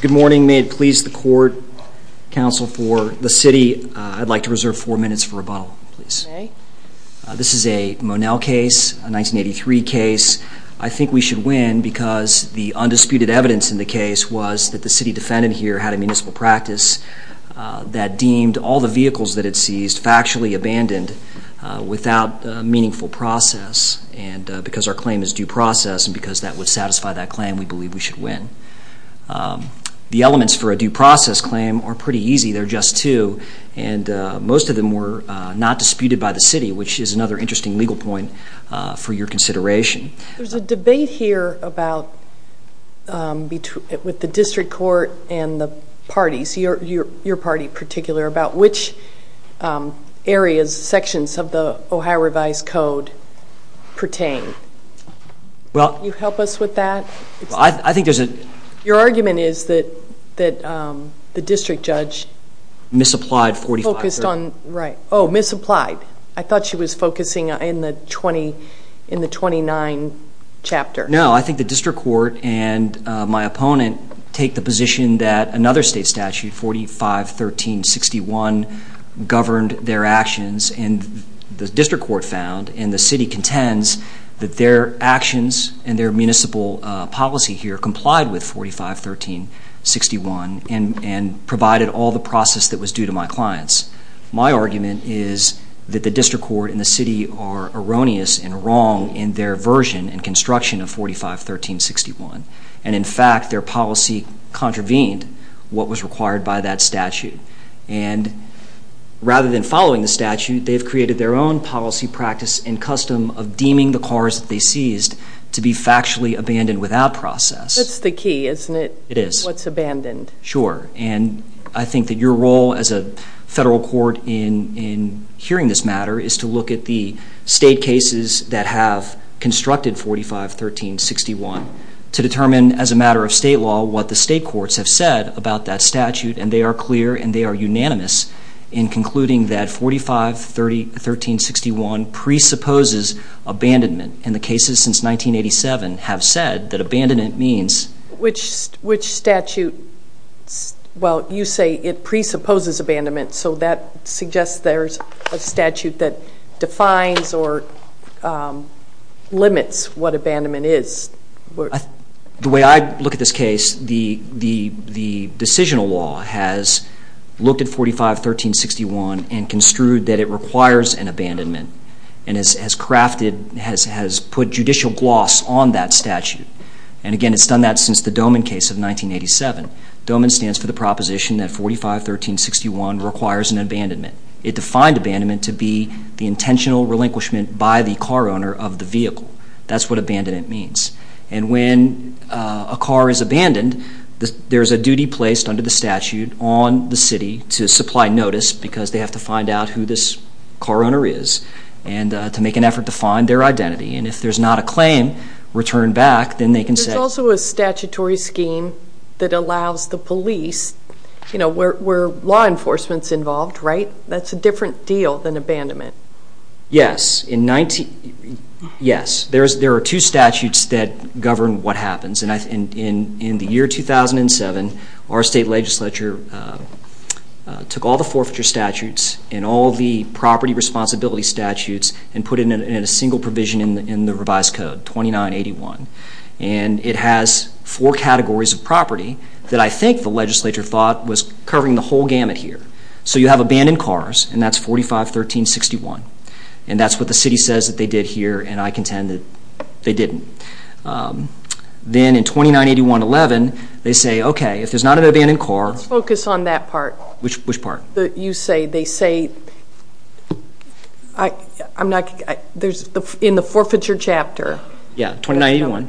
Good morning. May it please the court, counsel for the city, I'd like to reserve four minutes for rebuttal, please. This is a Monell case, a 1983 case. I think we should win because the undisputed evidence in the case was that the city defendant here had a municipal practice that deemed all the vehicles that it seized factually abandoned without meaningful process. And because our claim is due process and because that would satisfy that claim, we believe we should win. The elements for a due process claim are pretty easy, they're just two, and most of them were not disputed by the city, which is another interesting legal point for your consideration. There's a debate here about, with the district court and the parties, your party in particular, about which areas, sections of the Ohio Revised Code pertain. Well... Can you help us with that? I think there's a... Your argument is that the district judge... Misapplied 45... Oh, misapplied. I thought she was focusing in the 29 chapter. No, I think the district court and my opponent take the position that another state statute, 45-13-61, governed their actions. And the district court found, and the city contends, that their actions and their municipal policy here complied with 45-13-61 and provided all the process that was due to my clients. My argument is that the district court and the city are erroneous and wrong in their version and construction of 45-13-61. And in fact, their policy contravened what was required by that statute. And rather than following the statute, they've created their own policy practice and custom of deeming the cars that they seized to be factually abandoned without process. That's the key, isn't it? It is. What's abandoned. Sure. And I think that your role as a federal court in hearing this matter is to look at the state cases that have constructed 45-13-61 to determine, as a matter of state law, what the state courts have said about that statute. And they are clear and they are unanimous in concluding that 45-13-61 presupposes abandonment. And the cases since 1987 have said that abandonment means... Which statute? Well, you say it presupposes abandonment, so that suggests there's a statute that defines or limits what abandonment is. The way I look at this case, the decisional law has looked at 45-13-61 and construed that it requires an abandonment. And has crafted, has put judicial gloss on that statute. And again, it's done that since the DOMIN case of 1987. DOMIN stands for the proposition that 45-13-61 requires an abandonment. It defined abandonment to be the intentional relinquishment by the car owner of the vehicle. That's what abandonment means. And when a car is abandoned, there's a duty placed under the statute on the city to supply notice because they have to find out who this car owner is and to make an effort to find their identity. And if there's not a claim returned back, then they can say... There's also a statutory scheme that allows the police, you know, where law enforcement's involved, right? That's a different deal than abandonment. Yes. There are two statutes that govern what happens. In the year 2007, our state legislature took all the forfeiture statutes and all the property responsibility statutes and put it in a single provision in the revised code, 29-81. And it has four categories of property that I think the legislature thought was covering the whole gamut here. So you have abandoned cars, and that's 45-13-61. And that's what the city says that they did here, and I contend that they didn't. Then in 29-81-11, they say, okay, if there's not an abandoned car... Let's focus on that part. Which part? You say they say... I'm not... In the forfeiture chapter... Yeah, 29-81.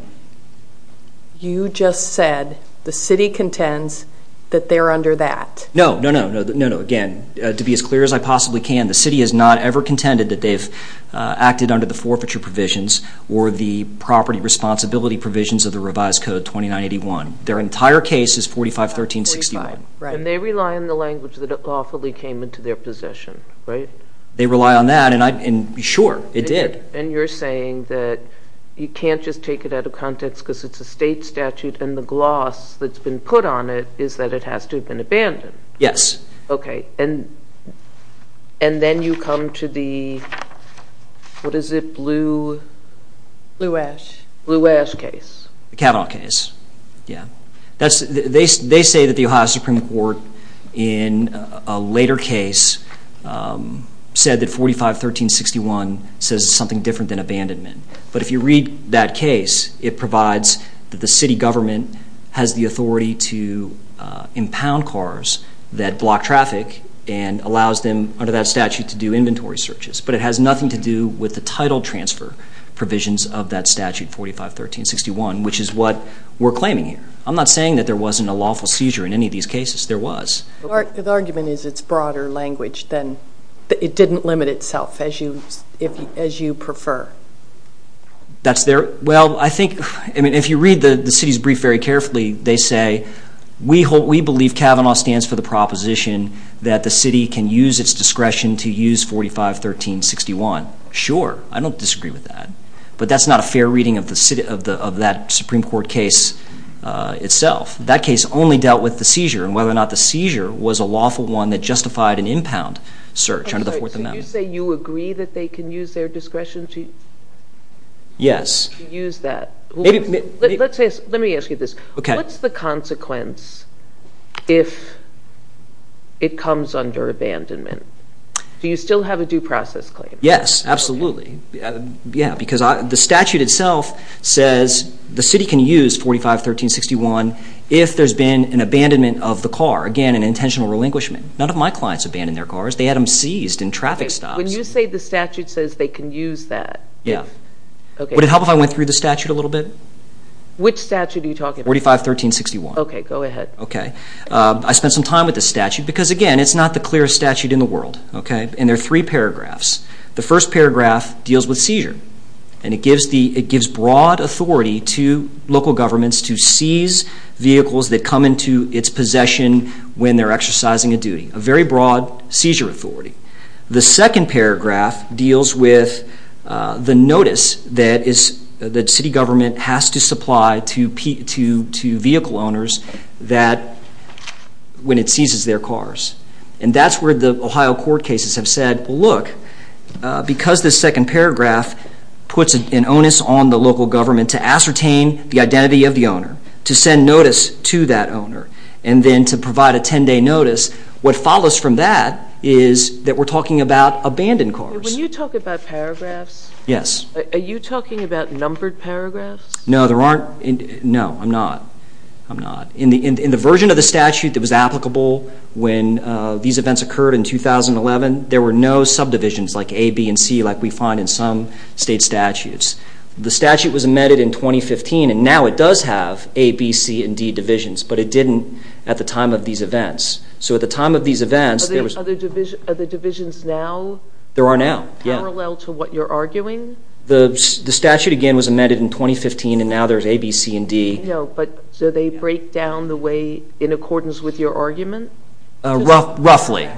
You just said the city contends that they're under that. No, no, no. Again, to be as clear as I possibly can, the city has not ever contended that they've acted under the forfeiture provisions or the property responsibility provisions of the revised code, 29-81. Their entire case is 45-13-61. And they rely on the language that lawfully came into their possession, right? They rely on that, and sure, it did. And you're saying that you can't just take it out of context because it's a state statute, and the gloss that's been put on it is that it has to have been abandoned. Yes. Okay. And then you come to the... What is it? Blue... Blue Ash. Blue Ash case. The Kavanaugh case. Yeah. They say that the Ohio Supreme Court in a later case said that 45-13-61 says it's something different than abandonment. But if you read that case, it provides that the city government has the authority to impound cars that block traffic and allows them, under that statute, to do inventory searches. But it has nothing to do with the title transfer provisions of that statute, 45-13-61, which is what we're claiming here. I'm not saying that there wasn't a lawful seizure in any of these cases. There was. The argument is it's broader language, then. It didn't limit itself as you prefer. That's their... Well, I think... I mean, if you read the city's brief very carefully, they say, we believe Kavanaugh stands for the proposition that the city can use its discretion to use 45-13-61. Sure. I don't disagree with that. But that's not a fair reading of that Supreme Court case itself. That case only dealt with the seizure and whether or not the seizure was a lawful one that justified an impound search under the Fourth Amendment. So you say you agree that they can use their discretion to... Yes. ...to use that. Let me ask you this. Okay. What's the consequence if it comes under abandonment? Do you still have a due process claim? Yes, absolutely. Yeah, because the statute itself says the city can use 45-13-61 if there's been an abandonment of the car, again, an intentional relinquishment. None of my clients abandoned their cars. They had them seized in traffic stops. When you say the statute says they can use that... Yeah. Okay. Would it help if I went through the statute a little bit? Which statute are you talking about? 45-13-61. Okay. Go ahead. Okay. I spent some time with the statute because, again, it's not the clearest statute in the world, okay? And there are three paragraphs. The first paragraph deals with seizure, and it gives broad authority to local governments to seize vehicles that come into its possession when they're exercising a duty, a very broad seizure authority. The second paragraph deals with the notice that city government has to supply to vehicle owners when it seizes their cars. And that's where the Ohio court cases have said, well, look, because this second paragraph puts an onus on the local government to ascertain the identity of the owner, to send notice to that owner, and then to provide a 10-day notice, what follows from that is that we're talking about abandoned cars. When you talk about paragraphs... Yes. ...are you talking about numbered paragraphs? No, there aren't. No, I'm not. I'm not. In the version of the statute that was applicable when these events occurred in 2011, there were no subdivisions like A, B, and C like we find in some state statutes. The statute was amended in 2015, and now it does have A, B, C, and D divisions, but it didn't at the time of these events. So at the time of these events... Are the divisions now... There are now, yeah. ...parallel to what you're arguing? The statute, again, was amended in 2015, and now there's A, B, C, and D. I know, but do they break down the way in accordance with your argument? Roughly.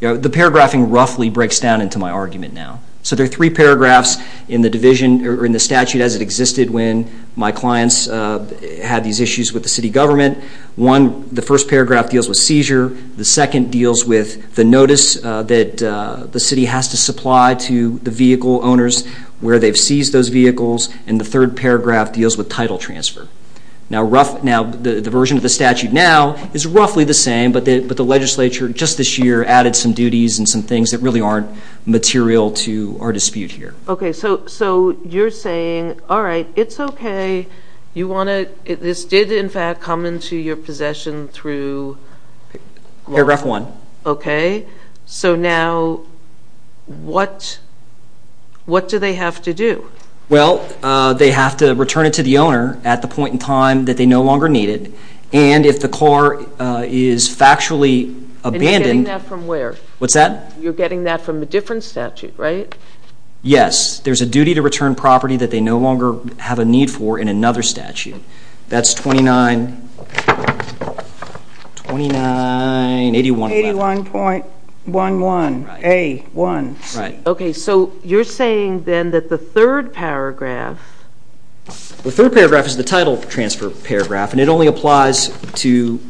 The paragraphing roughly breaks down into my argument now. So there are three paragraphs in the division or in the statute as it existed when my clients had these issues with the city government. One, the first paragraph deals with seizure. The second deals with the notice that the city has to supply to the vehicle owners where they've seized those vehicles. And the third paragraph deals with title transfer. Now, the version of the statute now is roughly the same, but the legislature just this year added some duties and some things that really aren't material to our dispute here. Okay, so you're saying, all right, it's okay. This did, in fact, come into your possession through... Paragraph 1. Okay. So now what do they have to do? Well, they have to return it to the owner at the point in time that they no longer need it. And if the car is factually abandoned... And you're getting that from where? What's that? You're getting that from a different statute, right? Yes, there's a duty to return property that they no longer have a need for in another statute. That's 29... 29... 81.11A1. Right. Okay, so you're saying then that the third paragraph... The third paragraph is the title transfer paragraph, and it only applies to...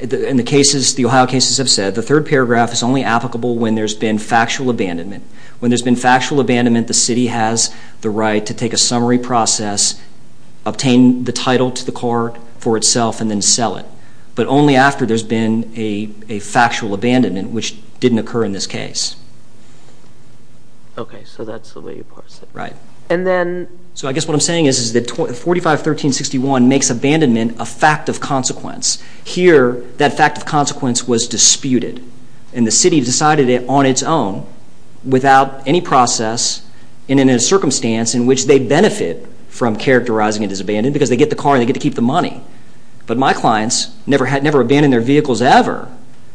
In the Ohio cases I've said, the third paragraph is only applicable when there's been factual abandonment. When there's been factual abandonment, the city has the right to take a summary process, obtain the title to the car for itself, and then sell it. But only after there's been a factual abandonment, which didn't occur in this case. Okay, so that's the way you parse it. Right. And then... So I guess what I'm saying is that 4513.61 makes abandonment a fact of consequence. Here, that fact of consequence was disputed, and the city decided it on its own without any process, and in a circumstance in which they benefit from characterizing it as abandoned because they get the car and they get to keep the money. But my clients never abandoned their vehicles ever.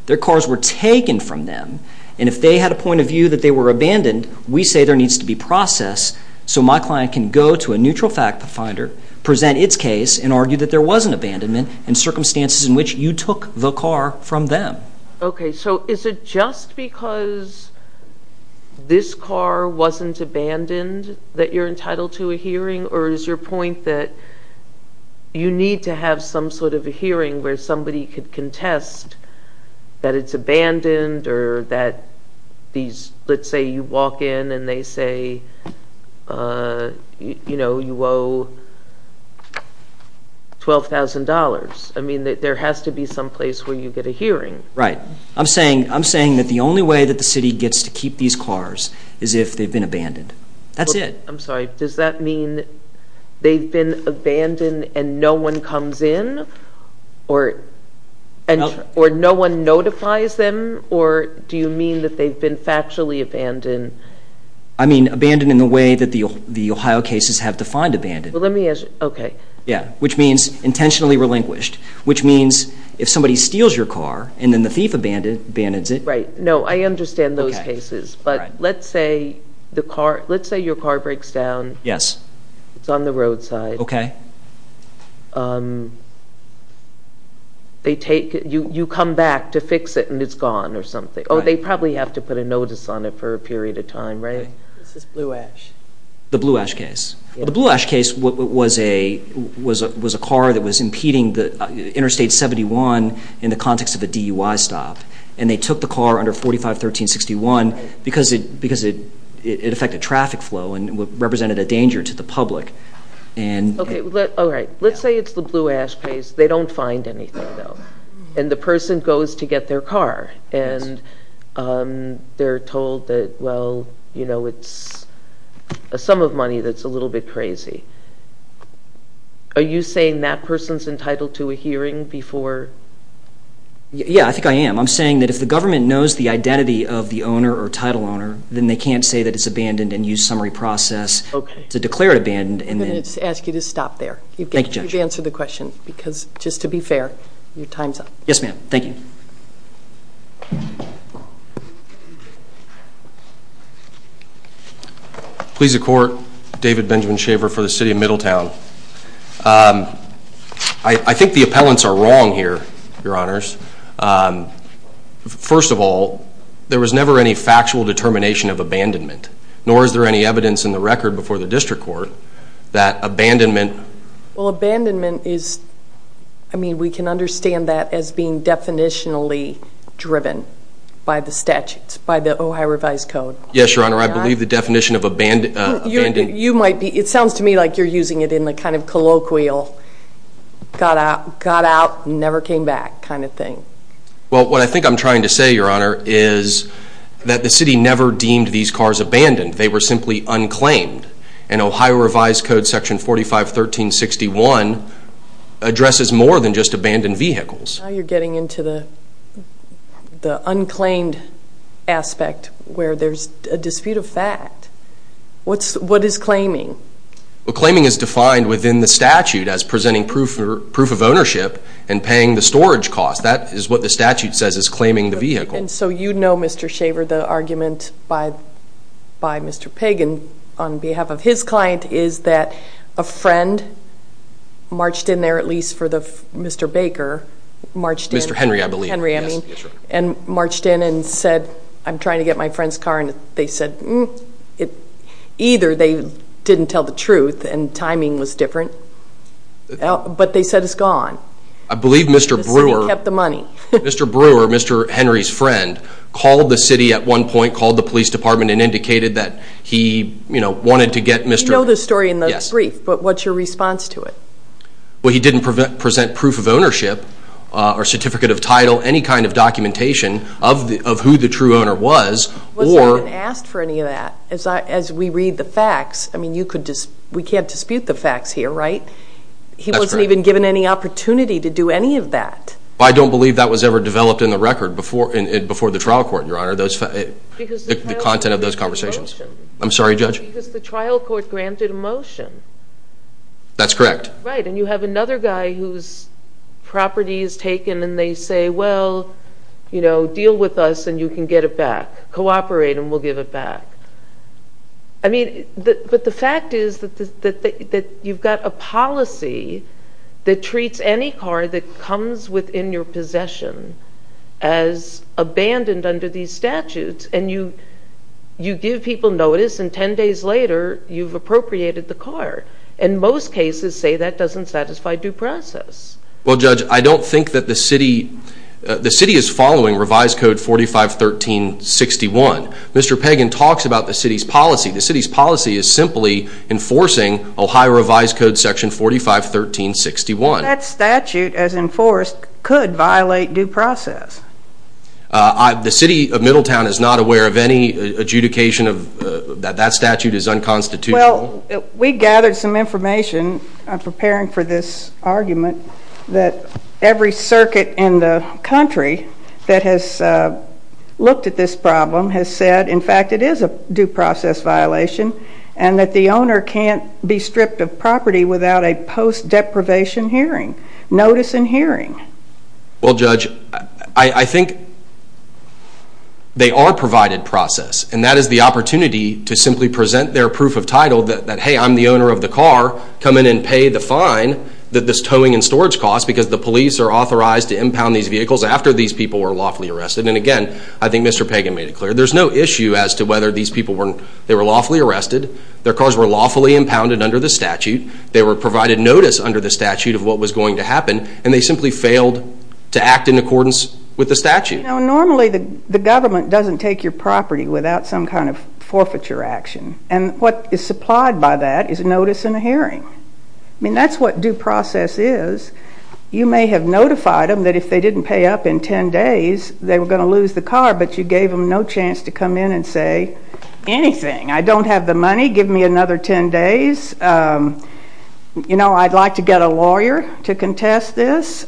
Their cars were taken from them, and if they had a point of view that they were abandoned, we say there needs to be process so my client can go to a neutral fact finder, present its case, and argue that there was an abandonment in circumstances in which you took the car from them. Okay, so is it just because this car wasn't abandoned that you're entitled to a hearing, or is your point that you need to have some sort of a hearing where somebody could contest that it's abandoned or that these, let's say you walk in and they say, you know, you owe $12,000. I mean, there has to be some place where you get a hearing. Right. I'm saying that the only way that the city gets to keep these cars is if they've been abandoned. That's it. I'm sorry, does that mean they've been abandoned and no one comes in or no one notifies them, or do you mean that they've been factually abandoned? I mean, abandoned in the way that the Ohio cases have defined abandoned. Well, let me ask, okay. Yeah, which means intentionally relinquished, which means if somebody steals your car and then the thief abandons it. Right, no, I understand those cases, but let's say your car breaks down. Yes. It's on the roadside. Okay. You come back to fix it and it's gone or something. Oh, they probably have to put a notice on it for a period of time, right? This is Blue Ash. The Blue Ash case. The Blue Ash case was a car that was impeding Interstate 71 in the context of a DUI stop, and they took the car under 45-13-61 because it affected traffic flow and represented a danger to the public. Okay, all right. Let's say it's the Blue Ash case. They don't find anything, though, and the person goes to get their car, and they're told that, well, you know, it's a sum of money that's a little bit crazy. Are you saying that person's entitled to a hearing before? Yeah, I think I am. I'm saying that if the government knows the identity of the owner or title owner, then they can't say that it's abandoned and use summary process to declare it abandoned. I'm going to ask you to stop there. Thank you, Judge. You've answered the question because, just to be fair, your time's up. Yes, ma'am. Thank you. Please accord David Benjamin Shaver for the city of Middletown. I think the appellants are wrong here, Your Honors. First of all, there was never any factual determination of abandonment, nor is there any evidence in the record before the district court that abandonment. Well, abandonment is, I mean, we can understand that as being definitionally driven by the statutes, by the Ohio revised code. Yes, Your Honor. I believe the definition of abandonment. It sounds to me like you're using it in a kind of colloquial, got out, never came back kind of thing. Well, what I think I'm trying to say, Your Honor, is that the city never deemed these cars abandoned. They were simply unclaimed. And Ohio revised code section 451361 addresses more than just abandoned vehicles. Now you're getting into the unclaimed aspect where there's a dispute of fact. What is claiming? Well, claiming is defined within the statute as presenting proof of ownership and paying the storage cost. That is what the statute says is claiming the vehicle. And so you know, Mr. Shaver, the argument by Mr. Pagan on behalf of his client is that a friend marched in there, at least for Mr. Baker, marched in. Mr. Henry, I believe. Henry, I mean, and marched in and said, I'm trying to get my friend's car. And they said, either they didn't tell the truth and timing was different, but they said it's gone. I believe Mr. Brewer. The city kept the money. Mr. Brewer, Mr. Henry's friend, called the city at one point, called the police department, and indicated that he, you know, wanted to get Mr. You know the story in the brief, but what's your response to it? Well, he didn't present proof of ownership or certificate of title, any kind of documentation of who the true owner was. Was that asked for any of that? As we read the facts, I mean, we can't dispute the facts here, right? He wasn't even given any opportunity to do any of that. I don't believe that was ever developed in the record before the trial court, Your Honor, the content of those conversations. I'm sorry, Judge? Because the trial court granted a motion. That's correct. Right, and you have another guy whose property is taken, and they say, well, you know, deal with us and you can get it back. Cooperate and we'll give it back. I mean, but the fact is that you've got a policy that treats any car that comes within your possession as abandoned under these statutes, and you give people notice, and 10 days later you've appropriated the car. And most cases say that doesn't satisfy due process. Well, Judge, I don't think that the city is following Revised Code 4513.61. Mr. Pagan talks about the city's policy. The city's policy is simply enforcing Ohio Revised Code section 4513.61. That statute, as enforced, could violate due process. The city of Middletown is not aware of any adjudication that that statute is unconstitutional. Well, we gathered some information preparing for this argument that every circuit in the country that has looked at this problem has said, in fact, it is a due process violation, and that the owner can't be stripped of property without a post-deprivation hearing, notice and hearing. Well, Judge, I think they are provided process, and that is the opportunity to simply present their proof of title that, hey, I'm the owner of the car, come in and pay the fine that this towing and storage costs, because the police are authorized to impound these vehicles after these people were lawfully arrested. And, again, I think Mr. Pagan made it clear there's no issue as to whether these people were lawfully arrested, their cars were lawfully impounded under the statute, they were provided notice under the statute of what was going to happen, and they simply failed to act in accordance with the statute. You know, normally the government doesn't take your property without some kind of forfeiture action, and what is supplied by that is a notice and a hearing. I mean, that's what due process is. You may have notified them that if they didn't pay up in 10 days, they were going to lose the car, but you gave them no chance to come in and say anything. I don't have the money, give me another 10 days. You know, I'd like to get a lawyer to contest this.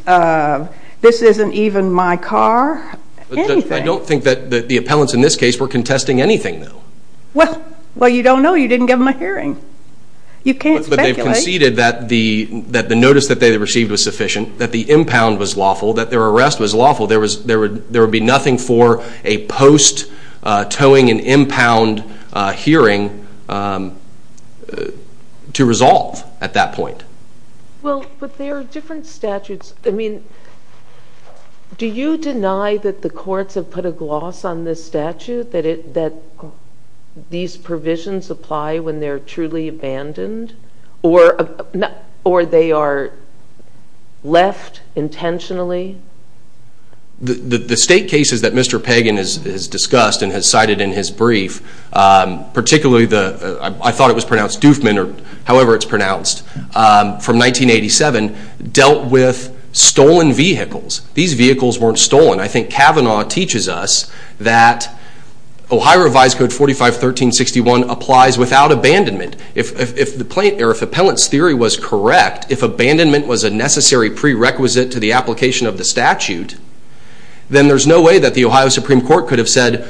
This isn't even my car. I don't think that the appellants in this case were contesting anything, though. Well, you don't know. You didn't give them a hearing. You can't speculate. But they've conceded that the notice that they received was sufficient, that the impound was lawful, that their arrest was lawful. There would be nothing for a post-towing and impound hearing to resolve at that point. Well, but there are different statutes. I mean, do you deny that the courts have put a gloss on this statute, that these provisions apply when they're truly abandoned or they are left intentionally? The state cases that Mr. Pagan has discussed and has cited in his brief, particularly the, I thought it was pronounced Doofman or however it's pronounced, from 1987, dealt with stolen vehicles. These vehicles weren't stolen. I think Kavanaugh teaches us that Ohio Revised Code 451361 applies without abandonment. If the plaintiff or if the appellant's theory was correct, if abandonment was a necessary prerequisite to the application of the statute, then there's no way that the Ohio Supreme Court could have said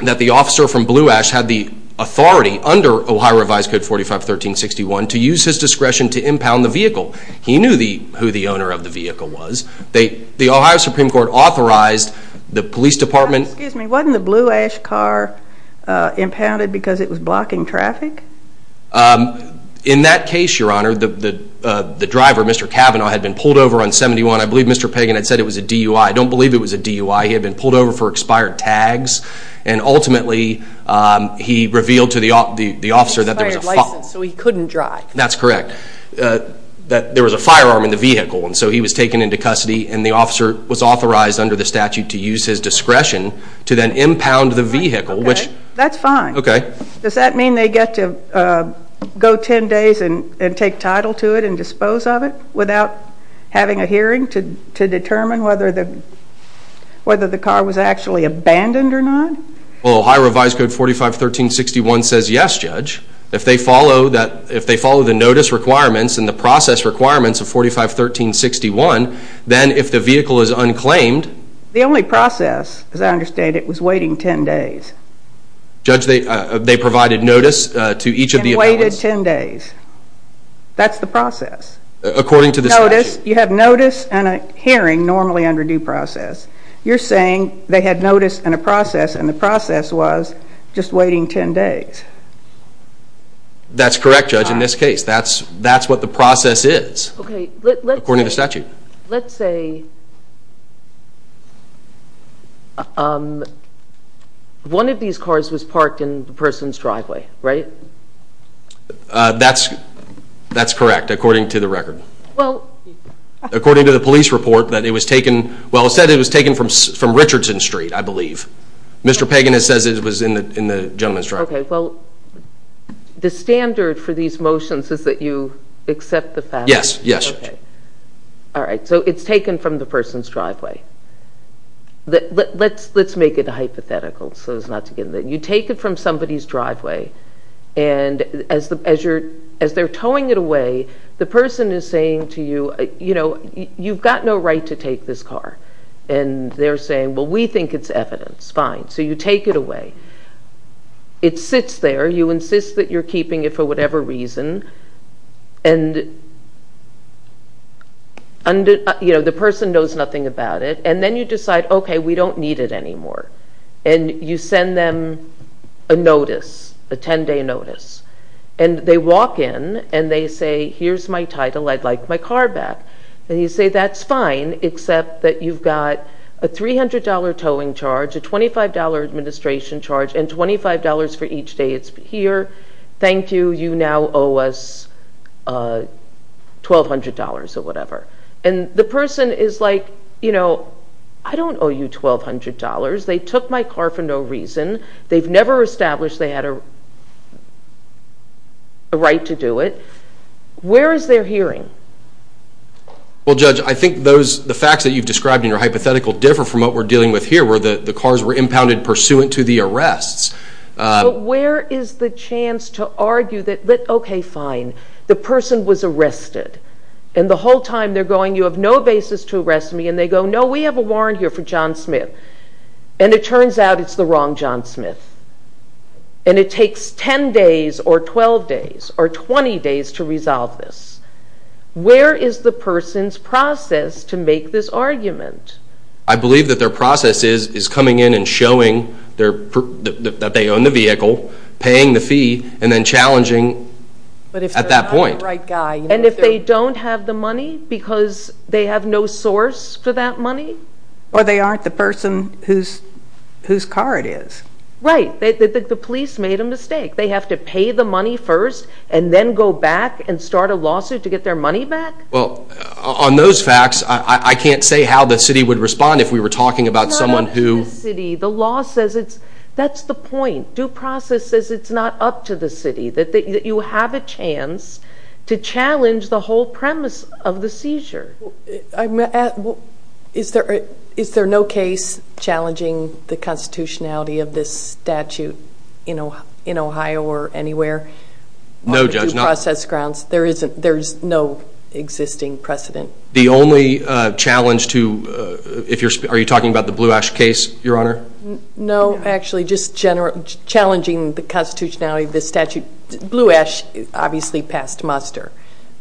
that the officer from Blue Ash had the authority under Ohio Revised Code 451361 to use his discretion to impound the vehicle. He knew who the owner of the vehicle was. The Ohio Supreme Court authorized the police department. Excuse me, wasn't the Blue Ash car impounded because it was blocking traffic? In that case, Your Honor, the driver, Mr. Kavanaugh, had been pulled over on 71. I believe Mr. Pagan had said it was a DUI. I don't believe it was a DUI. He had been pulled over for expired tags. And ultimately he revealed to the officer that there was a firearm. Expired license so he couldn't drive. That's correct, that there was a firearm in the vehicle. And so he was taken into custody and the officer was authorized under the statute to use his discretion to then impound the vehicle. That's fine. Okay. Does that mean they get to go 10 days and take title to it and dispose of it without having a hearing to determine whether the car was actually abandoned or not? Well, Ohio Revised Code 451361 says yes, Judge. If they follow the notice requirements and the process requirements of 451361, then if the vehicle is unclaimed. The only process, as I understand it, was waiting 10 days. Judge, they provided notice to each of the abandoned. And waited 10 days. That's the process. According to the statute. Notice, you have notice and a hearing normally under due process. You're saying they had notice and a process and the process was just waiting 10 days. That's correct, Judge, in this case. That's what the process is. According to the statute. Let's say one of these cars was parked in the person's driveway, right? That's correct, according to the record. According to the police report, it was taken from Richardson Street, I believe. Mr. Pagan says it was in the gentleman's driveway. The standard for these motions is that you accept the fact? Yes. All right, so it's taken from the person's driveway. Let's make it hypothetical. You take it from somebody's driveway. And as they're towing it away, the person is saying to you, you've got no right to take this car. And they're saying, well, we think it's evidence. Fine. So you take it away. It sits there. You insist that you're keeping it for whatever reason. The person knows nothing about it. And then you decide, okay, we don't need it anymore. And you send them a notice, a 10-day notice. And they walk in, and they say, here's my title. I'd like my car back. And you say, that's fine, except that you've got a $300 towing charge, a $25 administration charge, and $25 for each day it's here. Thank you. You now owe us $1,200 or whatever. And the person is like, you know, I don't owe you $1,200. They took my car for no reason. They've never established they had a right to do it. Where is their hearing? Well, Judge, I think the facts that you've described in your hypothetical differ from what we're dealing with here, where the cars were impounded pursuant to the arrests. But where is the chance to argue that, okay, fine, the person was arrested. And the whole time they're going, you have no basis to arrest me. And they go, no, we have a warrant here for John Smith. And it turns out it's the wrong John Smith. And it takes 10 days or 12 days or 20 days to resolve this. Where is the person's process to make this argument? I believe that their process is coming in and showing that they own the vehicle, paying the fee, and then challenging at that point. And if they don't have the money because they have no source for that money? Or they aren't the person whose car it is. Right, the police made a mistake. They have to pay the money first and then go back and start a lawsuit to get their money back? Well, on those facts, I can't say how the city would respond if we were talking about someone who – It's not up to the city. The law says it's – that's the point. Due process says it's not up to the city, that you have a chance to challenge the whole premise of the seizure. Is there no case challenging the constitutionality of this statute in Ohio or anywhere? No, Judge. On due process grounds? There's no existing precedent? The only challenge to – are you talking about the Blue Ash case, Your Honor? No, actually, just challenging the constitutionality of this statute. Blue Ash obviously passed muster,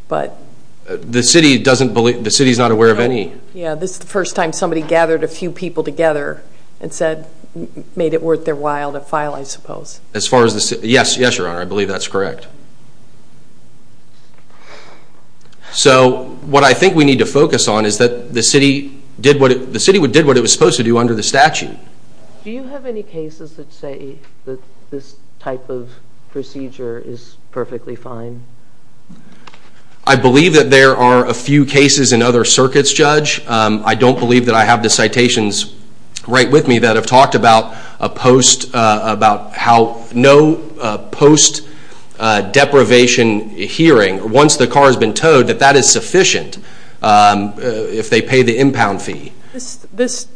but – The city doesn't believe – the city's not aware of any. Yeah, this is the first time somebody gathered a few people together and said – made it worth their while to file, I suppose. As far as the – yes, Your Honor, I believe that's correct. So what I think we need to focus on is that the city did what it – Do you have any cases that say that this type of procedure is perfectly fine? I believe that there are a few cases in other circuits, Judge. I don't believe that I have the citations right with me that have talked about a post – about how no post-deprivation hearing, once the car has been towed, that that is sufficient if they pay the impound fee. This –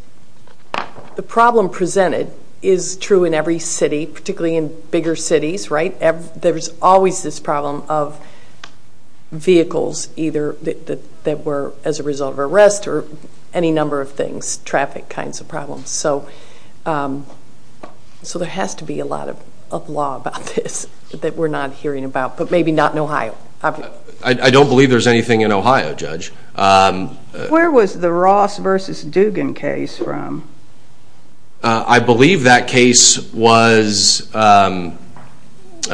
the problem presented is true in every city, particularly in bigger cities, right? There's always this problem of vehicles either that were as a result of arrest or any number of things, traffic kinds of problems. So there has to be a lot of law about this that we're not hearing about, but maybe not in Ohio. I don't believe there's anything in Ohio, Judge. Where was the Ross v. Dugan case from? I believe that case was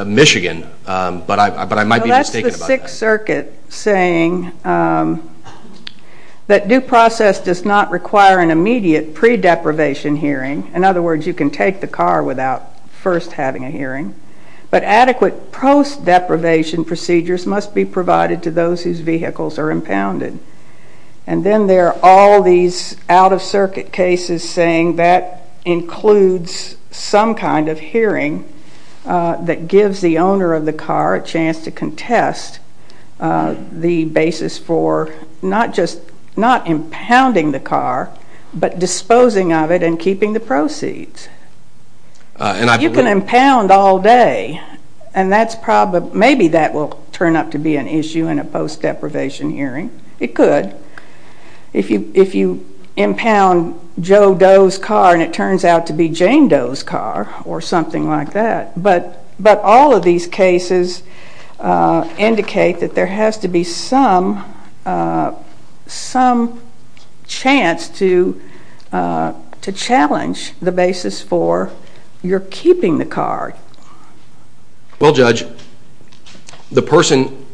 Michigan, but I might be mistaken about that. That's the Sixth Circuit saying that due process does not require an immediate pre-deprivation hearing. In other words, you can take the car without first having a hearing. But adequate post-deprivation procedures must be provided to those whose vehicles are impounded. And then there are all these out-of-circuit cases saying that includes some kind of hearing that gives the owner of the car a chance to contest the basis for not just – not impounding the car, but disposing of it and keeping the proceeds. You can impound all day, and maybe that will turn up to be an issue in a post-deprivation hearing. It could if you impound Joe Doe's car and it turns out to be Jane Doe's car or something like that. But all of these cases indicate that there has to be some chance to challenge the basis for your keeping the car. Well, Judge, the person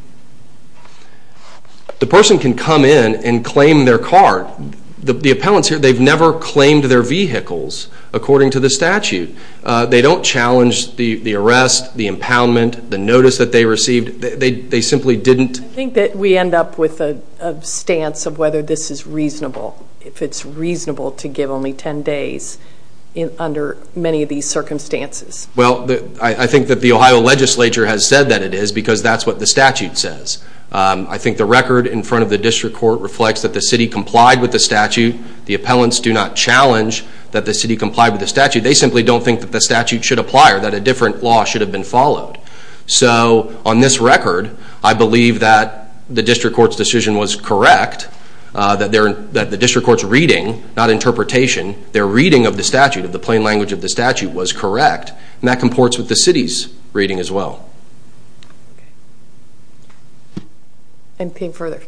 can come in and claim their car. The appellants here, they've never claimed their vehicles according to the statute. They don't challenge the arrest, the impoundment, the notice that they received. They simply didn't – I think that we end up with a stance of whether this is reasonable, if it's reasonable to give only 10 days under many of these circumstances. Well, I think that the Ohio legislature has said that it is because that's what the statute says. I think the record in front of the district court reflects that the city complied with the statute. The appellants do not challenge that the city complied with the statute. They simply don't think that the statute should apply or that a different law should have been followed. So on this record, I believe that the district court's decision was correct, that the district court's reading, not interpretation, their reading of the statute, of the plain language of the statute, was correct. And that comports with the city's reading as well. Okay. I'm paying further.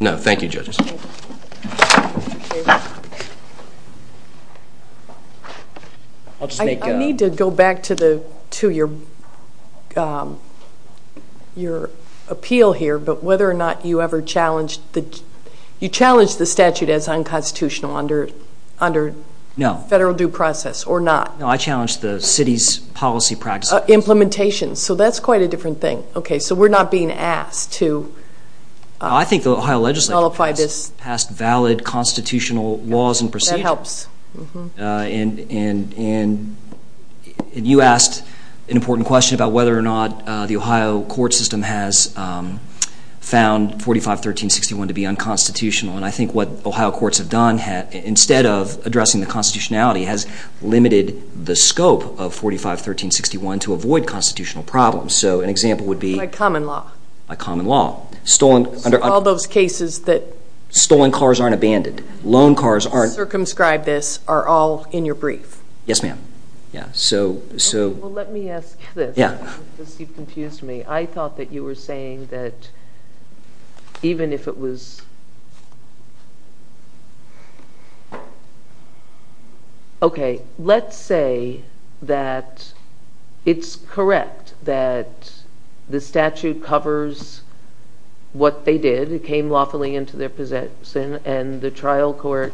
No, thank you, judges. I'll just make a – I need to go back to your appeal here, but whether or not you ever challenged the – you challenged the statute as unconstitutional under federal due process or not? No. No, I challenged the city's policy practices. Implementation. So that's quite a different thing. Okay. So we're not being asked to qualify this. I think the Ohio legislature passed valid constitutional laws and procedures. That helps. And you asked an important question about whether or not the Ohio court system has found 45-1361 to be unconstitutional. And I think what Ohio courts have done, instead of addressing the constitutionality, has limited the scope of 45-1361 to avoid constitutional problems. So an example would be – By common law. By common law. So all those cases that – Stolen cars aren't abandoned. Loan cars aren't – Circumscribe this are all in your brief. Yes, ma'am. Well, let me ask this because you've confused me. I thought that you were saying that even if it was – Okay. Let's say that it's correct that the statute covers what they did. It came lawfully into their possession, and the trial court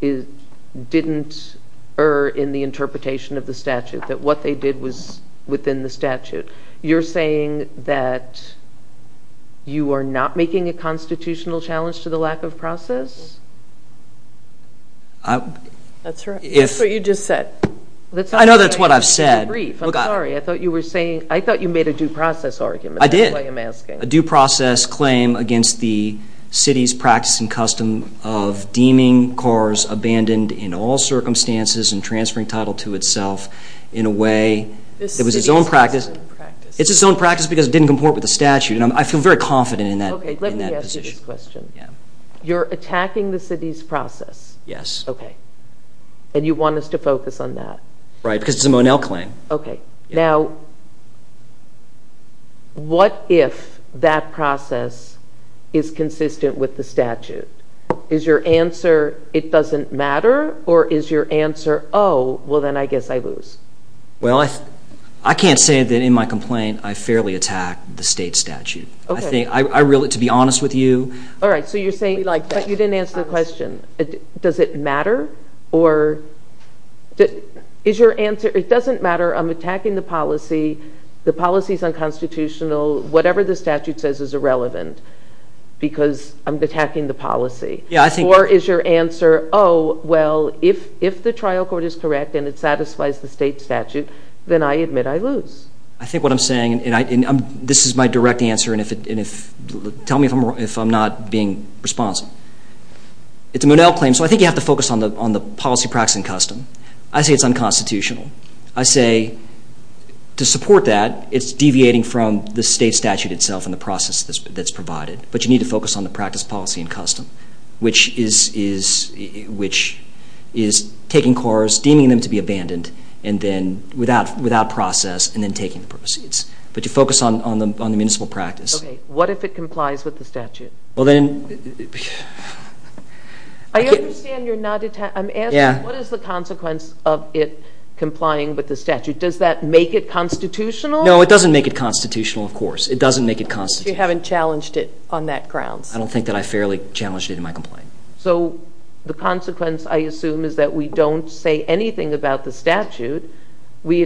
didn't err in the interpretation of the statute, that what they did was within the statute. You're saying that you are not making a constitutional challenge to the lack of process? That's what you just said. I know that's what I've said. I'm sorry. I thought you were saying – I thought you made a due process argument. I did. That's why I'm asking. A due process claim against the city's practice and custom of deeming cars abandoned in all circumstances and transferring title to itself in a way that was its own practice. It's its own practice because it didn't comport with the statute, and I feel very confident in that position. Okay. Let me ask you this question. Yeah. You're attacking the city's process? Yes. Okay. And you want us to focus on that? Right, because it's a Monell claim. Okay. Now, what if that process is consistent with the statute? Is your answer it doesn't matter, or is your answer, oh, well, then I guess I lose? Well, I can't say that in my complaint I fairly attacked the state statute. Okay. I really, to be honest with you – All right. So you're saying – I really like that. But you didn't answer the question. Does it matter, or is your answer, it doesn't matter, I'm attacking the policy, the policy's unconstitutional, whatever the statute says is irrelevant because I'm attacking the policy. Yeah, I think – then I admit I lose. I think what I'm saying, and this is my direct answer, and tell me if I'm not being responsive. It's a Monell claim, so I think you have to focus on the policy, practice, and custom. I say it's unconstitutional. I say to support that, it's deviating from the state statute itself and the process that's provided. But you need to focus on the practice, policy, and custom, which is taking cars, deeming them to be abandoned, and then without process, and then taking the proceeds. But you focus on the municipal practice. Okay. What if it complies with the statute? Well, then – I understand you're not – I'm asking what is the consequence of it complying with the statute? Does that make it constitutional? No, it doesn't make it constitutional, of course. It doesn't make it constitutional. So you haven't challenged it on that grounds? I don't think that I fairly challenged it in my complaint. So the consequence, I assume, is that we don't say anything about the statute. We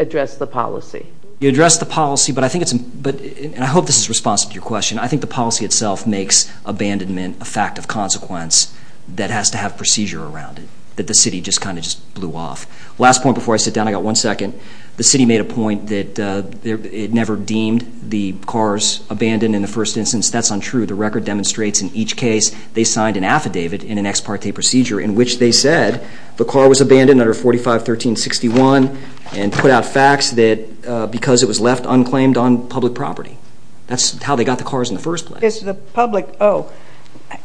address the policy. You address the policy, but I think it's – and I hope this is responsive to your question. I think the policy itself makes abandonment a fact of consequence that has to have procedure around it, that the city just kind of just blew off. Last point before I sit down, I've got one second. The city made a point that it never deemed the cars abandoned in the first instance. That's untrue. The record demonstrates in each case they signed an affidavit in an ex parte procedure in which they said the car was abandoned under 45-1361 and put out facts that because it was left unclaimed on public property. That's how they got the cars in the first place. Is the public – oh.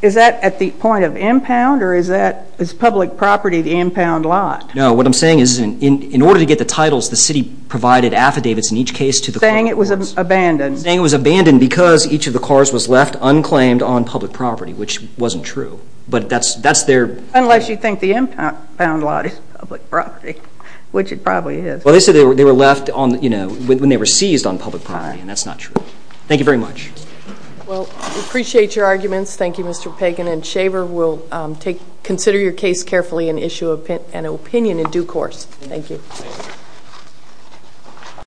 Is that at the point of impound or is that – is public property the impound lot? No. What I'm saying is in order to get the titles, the city provided affidavits in each case to the cars. Saying it was abandoned. Saying it was abandoned because each of the cars was left unclaimed on public property, which wasn't true. But that's their – Unless you think the impound lot is public property, which it probably is. Well, they said they were left on – when they were seized on public property, and that's not true. Thank you very much. Well, we appreciate your arguments. Thank you, Mr. Pagan and Shaver. We'll consider your case carefully and issue an opinion in due course. Thank you.